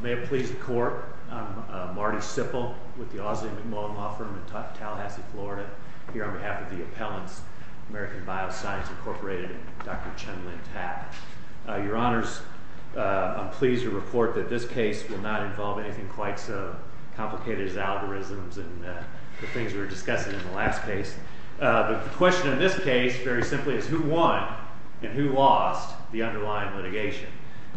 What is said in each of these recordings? May it please the Court, I'm Marty Sippel with the Aussie-McMullin Law Firm in Tallahassee, Florida, here on behalf of the appellants, American Bioscience Incorporated and Dr. Chen Lin Tat. Your Honors, I'm pleased to report that this case will not involve anything quite so complicated as algorithms and the things we were discussing in the last case. The question in this case, very simply, is who won and who lost the underlying litigation?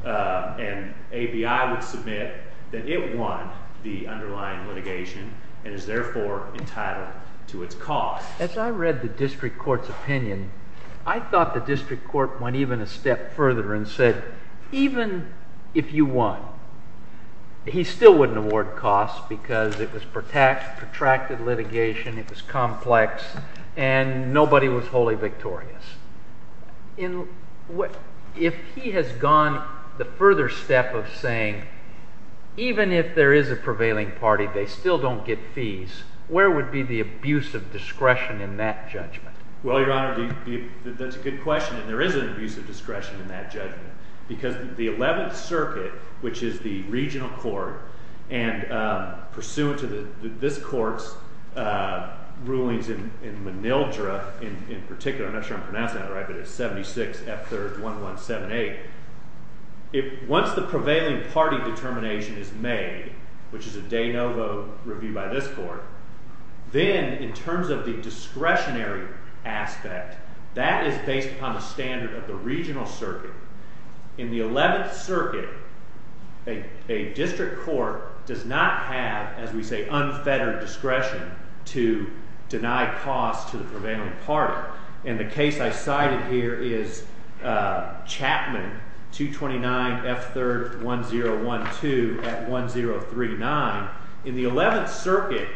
And ABI would submit that it won the underlying litigation and is therefore entitled to its cost. As I read the district court's opinion, I thought the district court went even a step further and said, even if you won, he still wouldn't award costs because it was protracted litigation, it was complex, and nobody was wholly victorious. If he has gone the further step of saying, even if there is a prevailing party, they Well, Your Honor, that's a good question, and there is an abuse of discretion in that judgment. Because the 11th Circuit, which is the regional court, and pursuant to this court's rulings in Manildra, in particular, I'm not sure I'm pronouncing that right, but it's 76 F. 3rd 1178, once the prevailing party determination is made, which is a de novo review by this court, then in terms of the discretionary aspect, that is based upon the standard of the regional circuit. In the 11th Circuit, a district court does not have, as we say, unfettered discretion to deny costs to the prevailing party. And the case I cited here is Chapman 229 F. 3rd 1012 at 1039. In the 11th Circuit,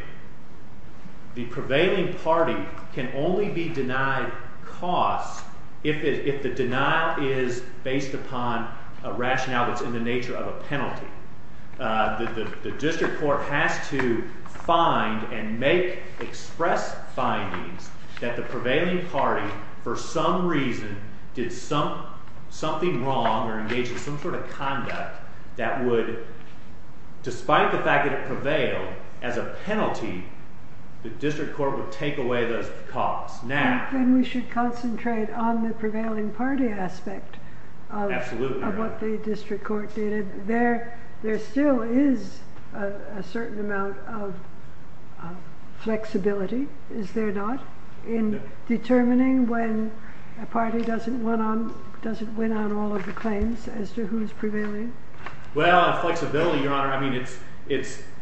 the prevailing party can only be denied costs if the denial is based upon a rationale that's in the nature of a penalty. The district court has to find and make express findings that the prevailing party, for some reason, did something wrong or engaged in some sort of conduct that would, despite the fact that it prevailed as a penalty, the district court would take away those costs. Now- Then we should concentrate on the prevailing party aspect of what the district court did. There still is a certain amount of flexibility, is there not, in determining when a party doesn't win on all of the claims as to who's prevailing? Well, flexibility, Your Honor, I mean,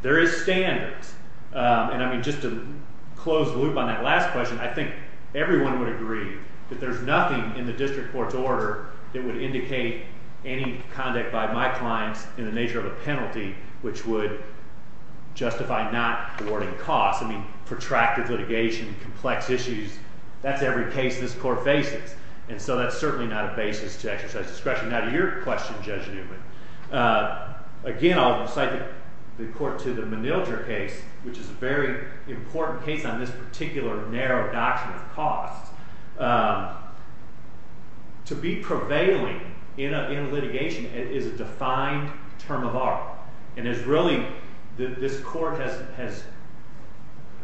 there is standards. And I mean, just to close the loop on that last question, I think everyone would agree that there's nothing in the district court's order that would indicate any conduct by my clients in the nature of a penalty which would justify not awarding costs. I mean, protracted litigation, complex issues, that's every case this court faces. And so that's certainly not a basis to exercise discretion. Now, to your question, Judge Newman, again, I'll cite the court to the Menilder case, which is a very important case on this particular narrow doctrine of costs. To be prevailing in a litigation is a defined term of art. And it's really, this court has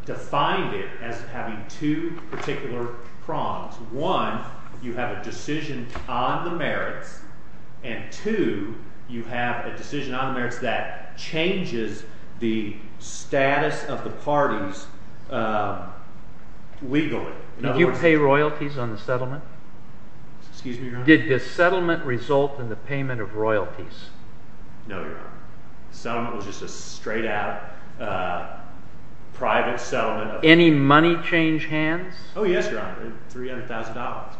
defined it as having two particular prongs. One, you have a decision on the merits. And two, you have a decision on the merits that changes the status of the parties legally. Did you pay royalties on the settlement? Excuse me, Your Honor? Did the settlement result in the payment of royalties? No, Your Honor. The settlement was just a straight out private settlement. Any money change hands? Oh, yes, Your Honor, $300,000.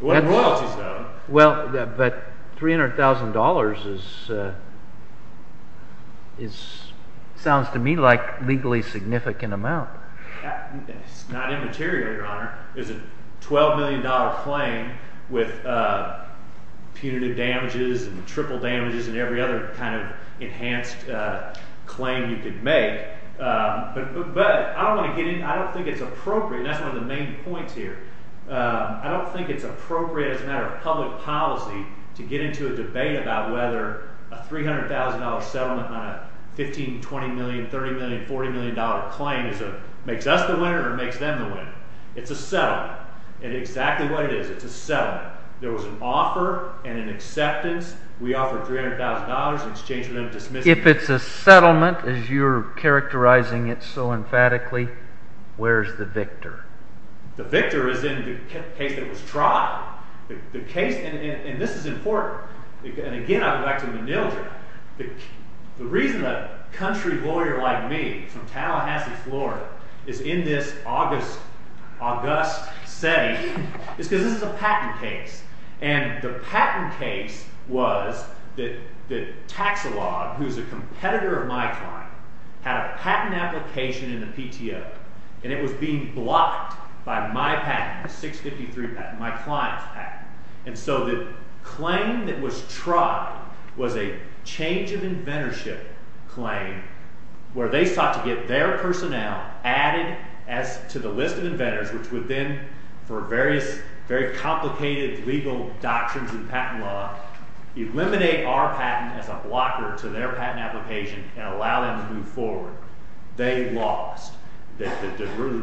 What royalties, though? Well, but $300,000 sounds to me like a legally significant amount. It's not immaterial, Your Honor. It's a $12 million claim with punitive damages and triple damages and every other kind of enhanced claim you could make. But I don't think it's appropriate, and that's one of the main points here, I don't think it's appropriate as a matter of public policy to get into a debate about whether a $300,000 settlement on a $15, $20 million, $30 million, $40 million claim makes us the winner or makes them the winner. It's a settlement. And exactly what it is, it's a settlement. There was an offer and an acceptance. If it's a settlement, as you're characterizing it so emphatically, where's the victor? The victor is in the case that was tried. The case, and this is important, and again I go back to Mnildre. The reason a country lawyer like me from Tallahassee, Florida, is in this august setting is because this is a patent case. And the patent case was that Taxilog, who's a competitor of my client, had a patent application in the PTO. And it was being blocked by my patent, the 653 patent, my client's patent. And so the claim that was tried was a change of inventorship claim where they sought to get their personnel added to the list of inventors which would then, for various very complicated legal doctrines in patent law, eliminate our patent as a blocker to their patent application and allow them to move forward. They lost. The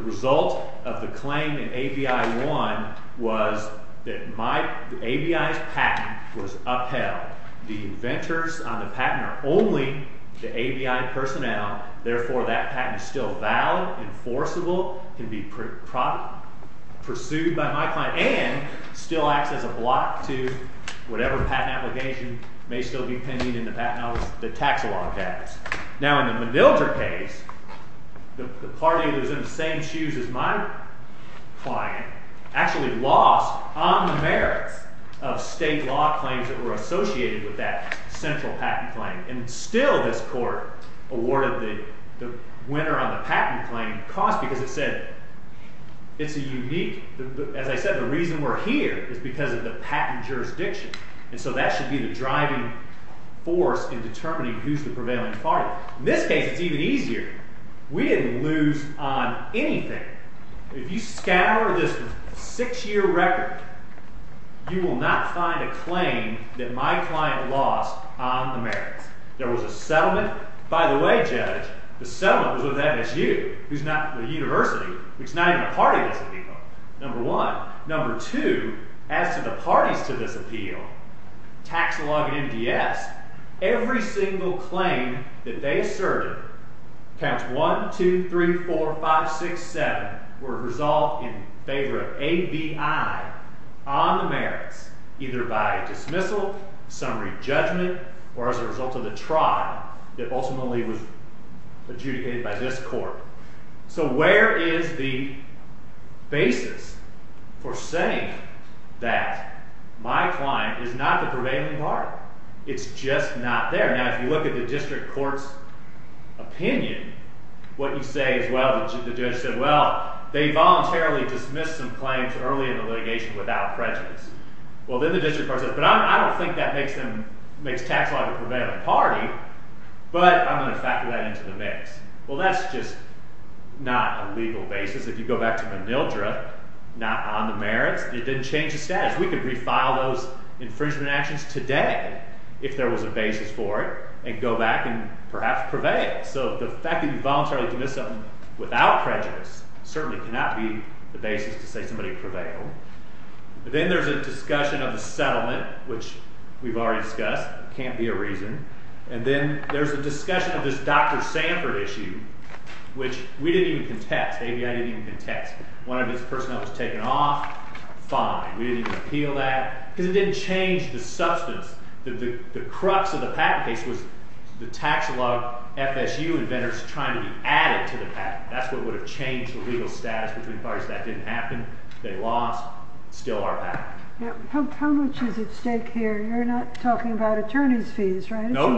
result of the claim in ABI 1 was that ABI's patent was upheld. The inventors on the patent are only the ABI personnel. Therefore, that patent is still valid, enforceable, can be pursued by my client, and still acts as a block to whatever patent application may still be pending in the taxilog tax. Now in the Mnildre case, the party that was in the same shoes as my client actually lost on the merits of state law claims that were associated with that central patent claim. And still this court awarded the winner on the patent claim a cause because it said it's a unique. As I said, the reason we're here is because of the patent jurisdiction. And so that should be the driving force in determining who's the prevailing party. In this case, it's even easier. We didn't lose on anything. If you scour this six-year record, you will not find a claim that my client lost on the merits. There was a settlement. By the way, Judge, the settlement was with MSU, the university, which is not even a party to this appeal, number one. Number two, as to the parties to this appeal, taxilog MDS, every single claim that they asserted, counts 1, 2, 3, 4, 5, 6, 7, were resolved in favor of ABI on the merits, either by dismissal, summary judgment, or as a result of the trial that ultimately was adjudicated by this court. So where is the basis for saying that my client is not the prevailing party? It's just not there. Now, if you look at the district court's opinion, what you say is, well, the judge said, well, they voluntarily dismissed some claims early in the litigation without prejudice. Well, then the district court says, but I don't think that makes taxilog a prevailing party, but I'm going to factor that into the mix. Well, that's just not a legal basis. If you go back to Manildra, not on the merits, it didn't change the status. We could refile those infringement actions today if there was a basis for it and go back and perhaps prevail. So the fact that you voluntarily dismissed something without prejudice certainly cannot be the basis to say somebody prevailed. Then there's a discussion of the settlement, which we've already discussed. It can't be a reason. And then there's a discussion of this Dr. Sanford issue, which we didn't even contest. ABI didn't even contest. One of its personnel was taken off. Fine. We didn't even appeal that because it didn't change the substance. The crux of the patent case was the taxilog FSU inventors trying to be added to the patent. That's what would have changed the legal status between parties. That didn't happen. They lost. Still our patent. How much is at stake here? You're not talking about attorney's fees, right? No.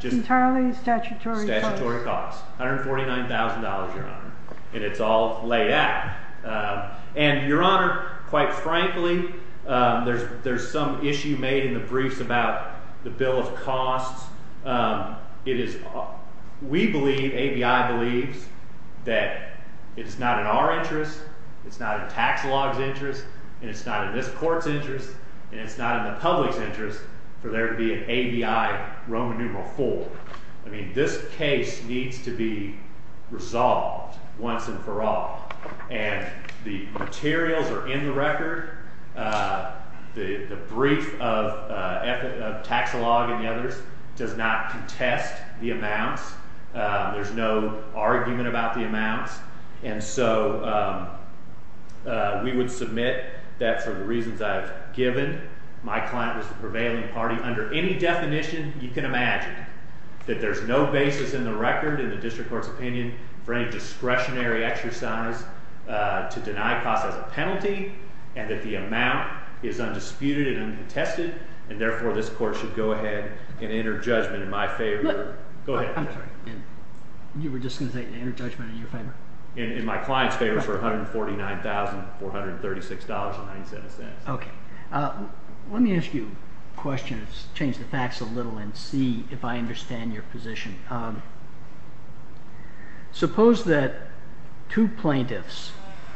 Entirely statutory costs. Statutory costs. $149,000, Your Honor. And it's all laid out. And, Your Honor, quite frankly, there's some issue made in the briefs about the bill of costs. We believe, ABI believes, that it's not in our interest, it's not in taxilog's interest, and it's not in this court's interest, and it's not in the public's interest for there to be an ABI Roman numeral 4. I mean, this case needs to be resolved once and for all. And the materials are in the record. The brief of taxilog and the others does not contest the amounts. There's no argument about the amounts. And so we would submit that for the reasons I've given, my client was the prevailing party. You can imagine that there's no basis in the record, in the district court's opinion, for any discretionary exercise to deny costs as a penalty, and that the amount is undisputed and uncontested, and therefore this court should go ahead and enter judgment in my favor. Look. Go ahead. I'm sorry. You were just going to say enter judgment in your favor? In my client's favor for $149,436.09. Okay. Let me ask you a question to change the facts a little and see if I understand your position. Suppose that two plaintiffs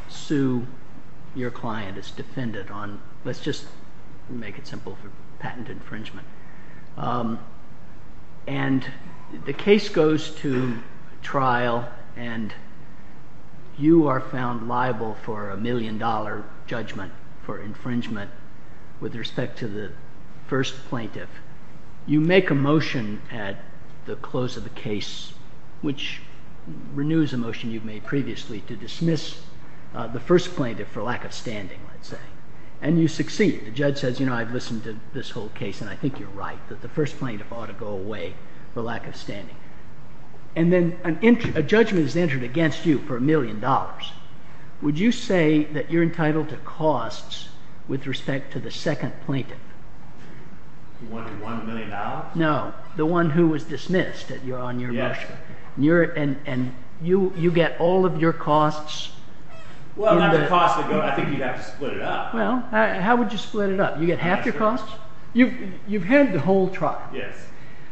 sue your client as defendant on, let's just make it simple, for patent infringement. And the case goes to trial and you are found liable for a million-dollar judgment for infringement with respect to the first plaintiff. You make a motion at the close of the case, which renews a motion you've made previously, to dismiss the first plaintiff for lack of standing, let's say. And you succeed. The judge says, you know, I've listened to this whole case and I think you're right, that the first plaintiff ought to go away for lack of standing. And then a judgment is entered against you for a million dollars. Would you say that you're entitled to costs with respect to the second plaintiff? The one who won a million dollars? No. The one who was dismissed on your motion. Yes. And you get all of your costs? Well, not the costs. I think you'd have to split it up. Well, how would you split it up? You get half your costs? You've had the whole trial. Yes.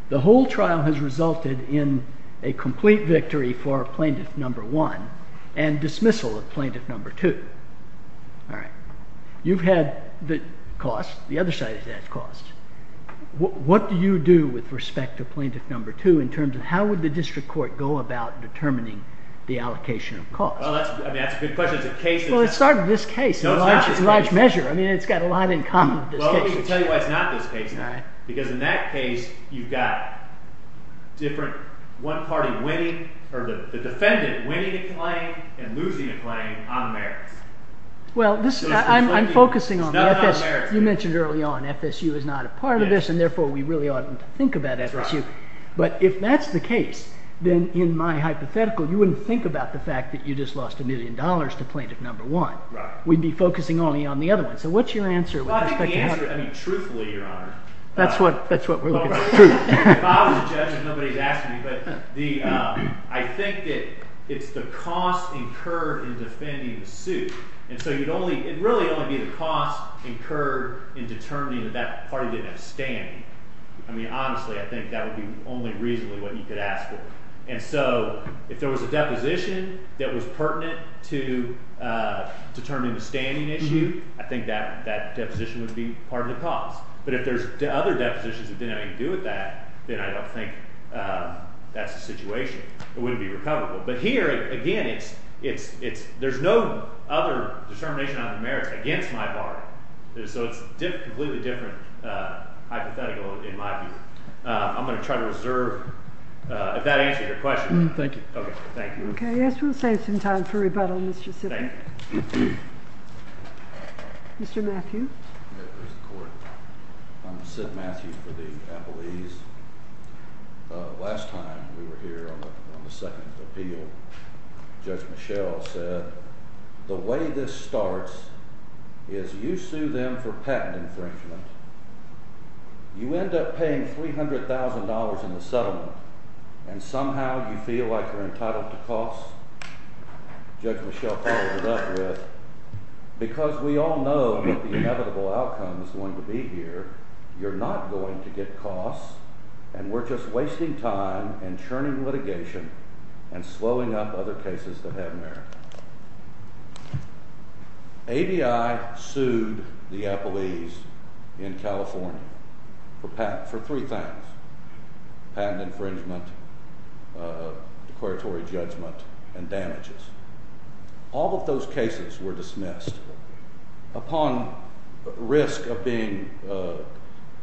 The whole trial has resulted in a complete victory for plaintiff number one and dismissal of plaintiff number two. All right. You've had the costs. The other side has had costs. What do you do with respect to plaintiff number two in terms of how would the district court go about determining the allocation of costs? Well, that's a good question. It's a case. Well, it started with this case. No, it's not this case. It's a large measure. I mean, it's got a lot in common with this case. Well, let me tell you why it's not this case. All right. Because in that case, you've got different one party winning or the defendant winning a claim and losing a claim on the merits. Well, I'm focusing on the FSU. It's not on the merits. You mentioned early on FSU is not a part of this, and therefore, we really oughtn't think about FSU. That's right. But if that's the case, then in my hypothetical, you wouldn't think about the fact that you just lost a million dollars to plaintiff number one. Right. We'd be focusing only on the other one. So what's your answer with respect to that? Well, I think the answer, I mean, truthfully, Your Honor. That's what we're looking for, truth. If I was a judge, and nobody's asking me, but I think that it's the cost incurred in defending the suit. And so you'd only – it'd really only be the cost incurred in determining that that party didn't have standing. I mean, honestly, I think that would be only reasonably what you could ask for. And so if there was a deposition that was pertinent to determining the standing issue, I think that deposition would be part of the cost. But if there's other depositions that didn't have anything to do with that, then I don't think that's the situation. It wouldn't be recoverable. But here, again, it's – there's no other determination on the merits against my bargain. So it's a completely different hypothetical in my view. I'm going to try to reserve – if that answers your question. Thank you. Okay, thank you. Okay, yes, we'll save some time for rebuttal, Mr. Sidman. Thank you. Mr. Matthew. Yes, where's the court? I'm Sid Matthew for the Appellees. Last time we were here on the second appeal, Judge Michelle said, the way this starts is you sue them for patent infringement. You end up paying $300,000 in the settlement, and somehow you feel like you're entitled to costs. Judge Michelle followed it up with, because we all know what the inevitable outcome is going to be here. You're not going to get costs, and we're just wasting time and churning litigation and slowing up other cases that have merit. ABI sued the Appellees in California for patent – for three things, patent infringement, declaratory judgment, and damages. All of those cases were dismissed upon risk of being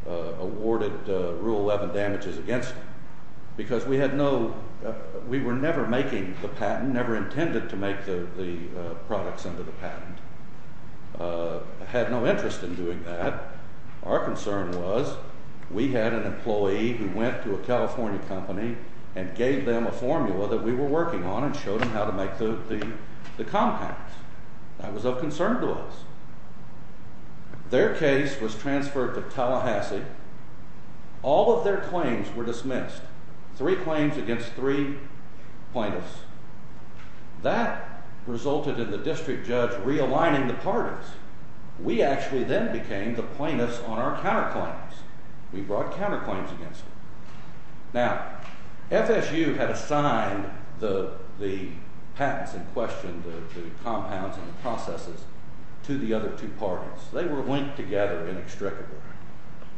awarded Rule 11 damages against them, because we had no – we were never making the patent, never intended to make the products under the patent, had no interest in doing that. Our concern was we had an employee who went to a California company and gave them a formula that we were working on and showed them how to make the compounds. That was of concern to us. Their case was transferred to Tallahassee. All of their claims were dismissed. Three claims against three plaintiffs. That resulted in the district judge realigning the parties. We actually then became the plaintiffs on our counterclaims. We brought counterclaims against them. Now, FSU had assigned the patents in question, the compounds and the processes, to the other two parties. They were linked together inextricably.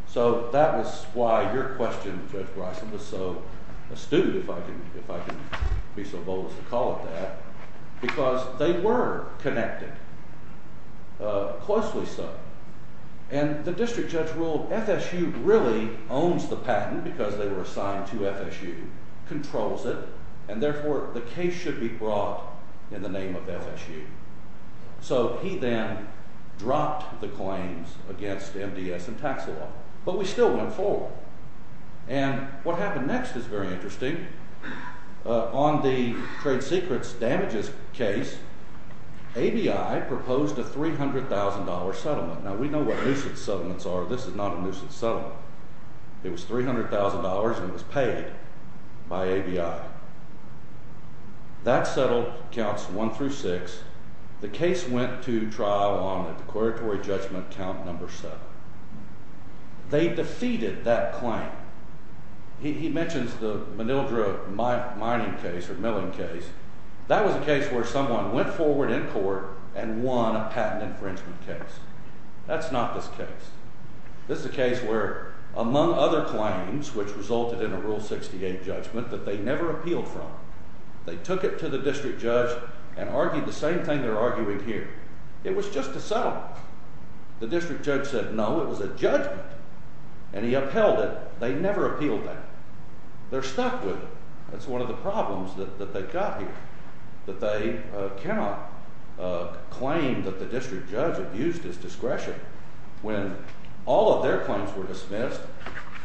So that was why your question, Judge Bryson, was so astute, if I can be so bold as to call it that, because they were connected, closely so. And the district judge ruled FSU really owns the patent because they were assigned to FSU, controls it, and therefore the case should be brought in the name of FSU. So he then dropped the claims against MDS and tax law, but we still went forward. And what happened next is very interesting. On the trade secrets damages case, ABI proposed a $300,000 settlement. Now, we know what nuisance settlements are. This is not a nuisance settlement. It was $300,000 and it was paid by ABI. That settlement counts one through six. The case went to trial on a declaratory judgment count number seven. They defeated that claim. He mentions the Manildra mining case or milling case. That was a case where someone went forward in court and won a patent infringement case. That's not this case. This is a case where, among other claims, which resulted in a Rule 68 judgment that they never appealed from, they took it to the district judge and argued the same thing they're arguing here. It was just a settlement. The district judge said, no, it was a judgment, and he upheld it. They never appealed that. They're stuck with it. That's one of the problems that they've got here, that they cannot claim that the district judge abused his discretion. When all of their claims were dismissed,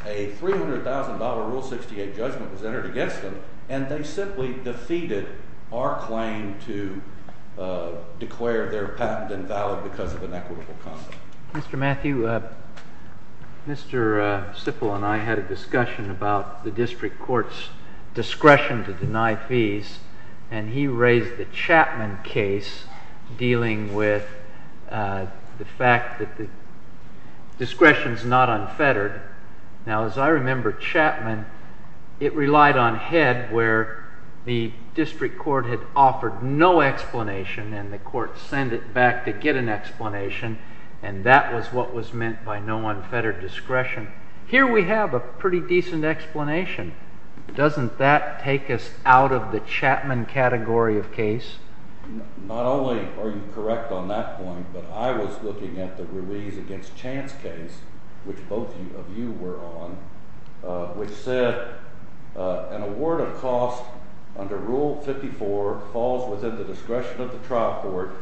a $300,000 Rule 68 judgment was entered against them, and they simply defeated our claim to declare their patent invalid because of an equitable concept. Mr. Matthew, Mr. Sippel and I had a discussion about the district court's discretion to deny fees, and he raised the Chapman case dealing with the fact that the discretion is not unfettered. Now, as I remember, Chapman, it relied on Head, where the district court had offered no explanation, and the court sent it back to get an explanation, and that was what was meant by no unfettered discretion. Here we have a pretty decent explanation. Doesn't that take us out of the Chapman category of case? Not only are you correct on that point, but I was looking at the Ruiz against Chance case, which both of you were on, which said an award of cost under Rule 54 falls within the discretion of the trial court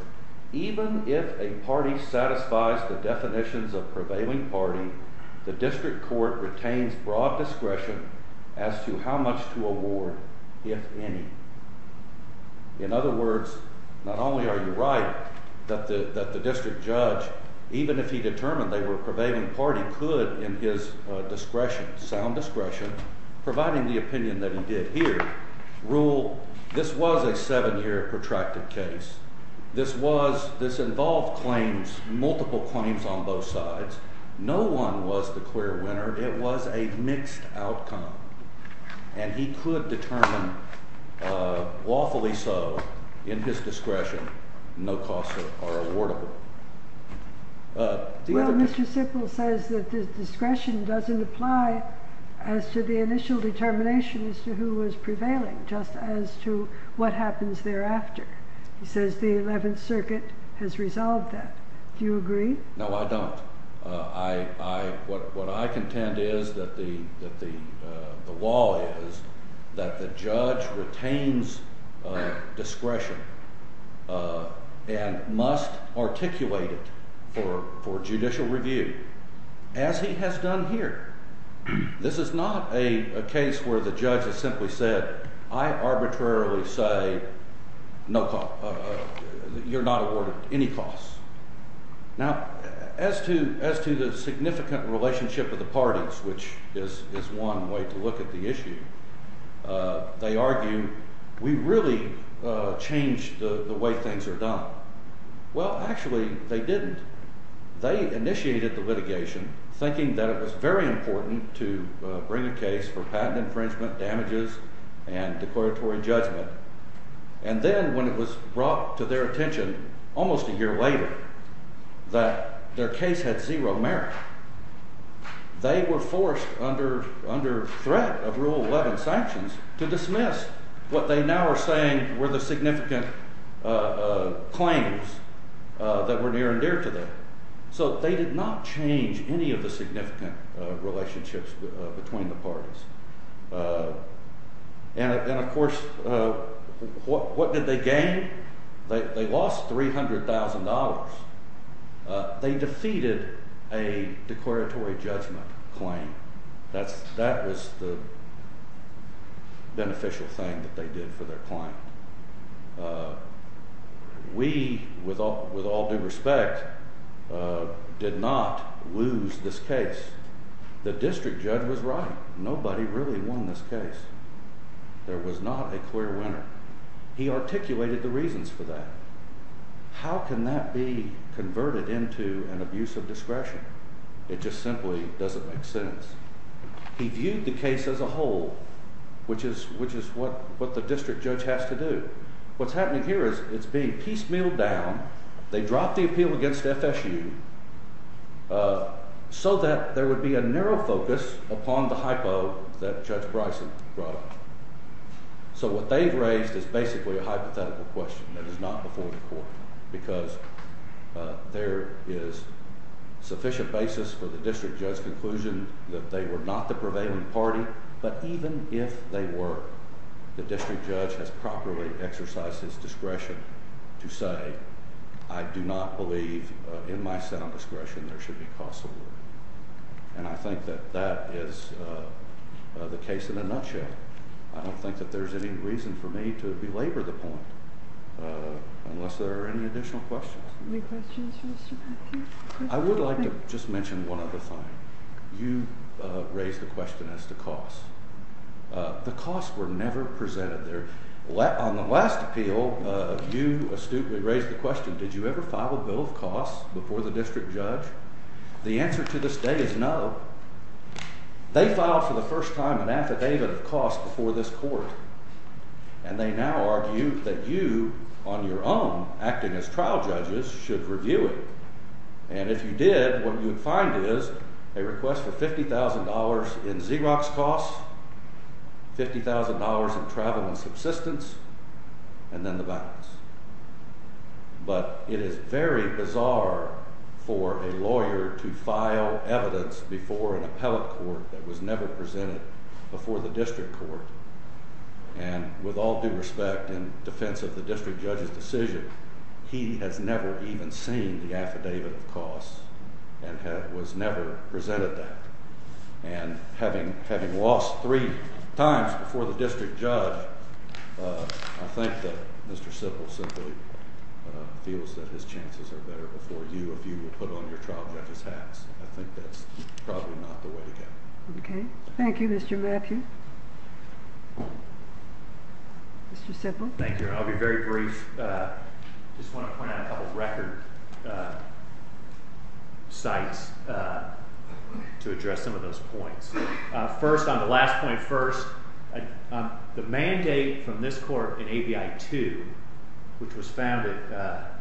even if a party satisfies the definitions of prevailing party, the district court retains broad discretion as to how much to award, if any. In other words, not only are you right that the district judge, even if he determined they were a prevailing party, could, in his discretion, sound discretion, providing the opinion that he did here, rule this was a seven-year protracted case. This involved claims, multiple claims on both sides. No one was the clear winner. It was a mixed outcome, and he could determine, lawfully so, in his discretion, no cost or awardable. Well, Mr. Sipple says that the discretion doesn't apply as to the initial determination as to who was prevailing, just as to what happens thereafter. He says the Eleventh Circuit has resolved that. Do you agree? No, I don't. What I contend is that the law is that the judge retains discretion and must articulate it for judicial review, as he has done here. This is not a case where the judge has simply said, I arbitrarily say you're not awarded any costs. Now, as to the significant relationship of the parties, which is one way to look at the issue, they argue, we really changed the way things are done. Well, actually, they didn't. They initiated the litigation thinking that it was very important to bring a case for patent infringement, damages, and declaratory judgment. And then when it was brought to their attention almost a year later that their case had zero merit, they were forced under threat of Rule 11 sanctions to dismiss what they now are saying were the significant claims that were near and dear to them. So they did not change any of the significant relationships between the parties. And, of course, what did they gain? They lost $300,000. They defeated a declaratory judgment claim. That was the beneficial thing that they did for their client. We, with all due respect, did not lose this case. The district judge was right. Nobody really won this case. There was not a clear winner. He articulated the reasons for that. How can that be converted into an abuse of discretion? It just simply doesn't make sense. He viewed the case as a whole, which is what the district judge has to do. What's happening here is it's being piecemealed down. They dropped the appeal against FSU so that there would be a narrow focus upon the hypo that Judge Bryson brought up. So what they've raised is basically a hypothetical question that is not before the court, because there is sufficient basis for the district judge's conclusion that they were not the prevailing party. But even if they were, the district judge has properly exercised his discretion to say, I do not believe in my sound discretion there should be cost allurement. And I think that that is the case in a nutshell. I don't think that there's any reason for me to belabor the point, unless there are any additional questions. Any questions for Mr. Matthews? I would like to just mention one other thing. You raised the question as to cost. The costs were never presented there. On the last appeal, you astutely raised the question, did you ever file a bill of costs before the district judge? The answer to this day is no. They filed for the first time an affidavit of costs before this court. And they now argue that you, on your own, acting as trial judges, should review it. And if you did, what you would find is a request for $50,000 in Xerox costs, $50,000 in travel and subsistence, and then the balance. But it is very bizarre for a lawyer to file evidence before an appellate court that was never presented before the district court. And with all due respect, in defense of the district judge's decision, he has never even seen the affidavit of costs and was never presented that. And having lost three times before the district judge, I think that Mr. Sippel simply feels that his chances are better before you, if you would put on your trial judge's hats. I think that's probably not the way to go. Okay. Thank you, Mr. Matthews. Mr. Sippel? Thank you. I'll be very brief. I just want to point out a couple of record sites to address some of those points. First, on the last point first, the mandate from this court in ABI 2, which is founded, the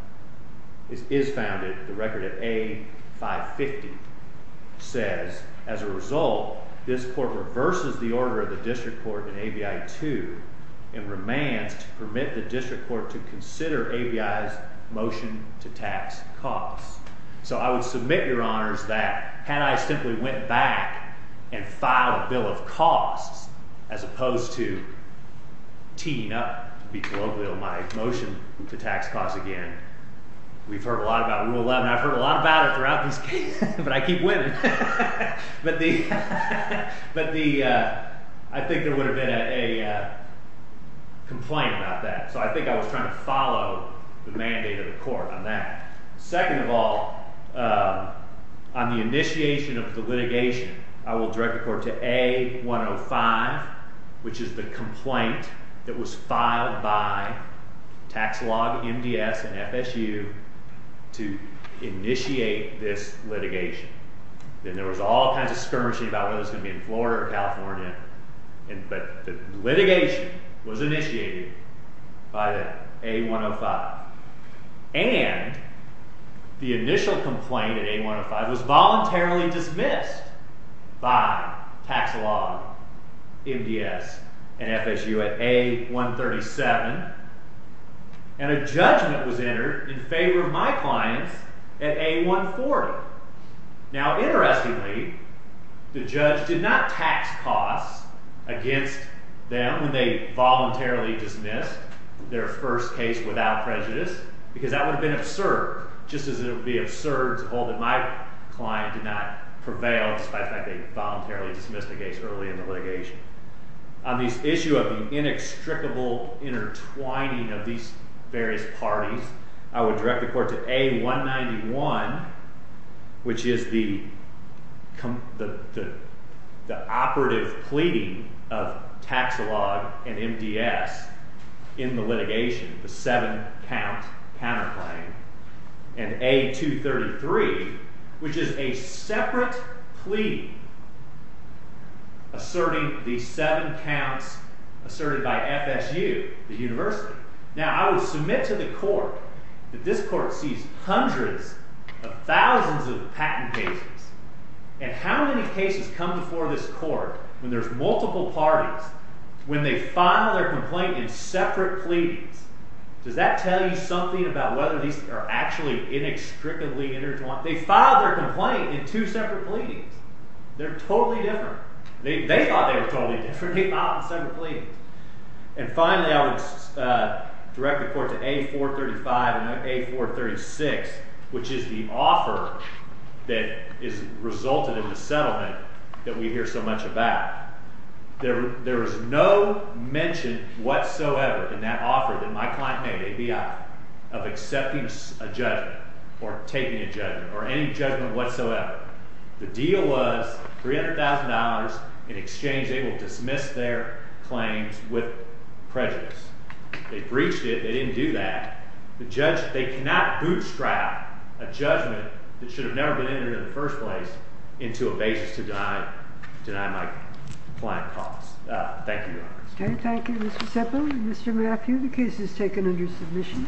record of A550, says, as a result, this court reverses the order of the district court in ABI 2 and remains to permit the district court to consider ABI's motion to tax costs. So I would submit, Your Honors, that had I simply went back and filed a bill of costs as opposed to teeing up, to be global, my motion to tax costs again, we've heard a lot about Rule 11, I've heard a lot about it throughout this case, but I keep winning. But the, I think there would have been a complaint about that. So I think I was trying to follow the mandate of the court on that. Second of all, on the initiation of the litigation, I will direct the court to A105, which is the complaint that was filed by Tax Law, MDS, and FSU to initiate this litigation. And there was all kinds of skirmishing about whether it was going to be in Florida or California. But the litigation was initiated by the A105. And the initial complaint at A105 was voluntarily dismissed by Tax Law, MDS, and FSU at A137. And a judgment was entered in favor of my clients at A140. Now, interestingly, the judge did not tax costs against them when they voluntarily dismissed their first case without prejudice. Because that would have been absurd, just as it would be absurd to hold that my client did not prevail despite the fact that they voluntarily dismissed the case early in the litigation. On this issue of the inextricable intertwining of these various parties, I would direct the court to A191, which is the operative pleading of Tax Law and MDS in the litigation, the seven-count counterclaim. And A233, which is a separate pleading asserting these seven counts asserted by FSU, the university. Now, I would submit to the court that this court sees hundreds of thousands of patent cases. And how many cases come before this court when there's multiple parties when they file their complaint in separate pleadings? Does that tell you something about whether these are actually inextricably intertwined? They filed their complaint in two separate pleadings. They're totally different. They thought they were totally different. They filed in separate pleadings. And finally, I would direct the court to A435 and A436, which is the offer that has resulted in the settlement that we hear so much about. There is no mention whatsoever in that offer that my client made, ABI, of accepting a judgment or taking a judgment or any judgment whatsoever. The deal was $300,000 in exchange. They will dismiss their claims with prejudice. They breached it. They didn't do that. They cannot bootstrap a judgment that should have never been entered in the first place into a basis to deny my client cause. Thank you, Your Honor. Thank you, Mr. Semple. Mr. Mathew, the case is taken under submission. Thank you.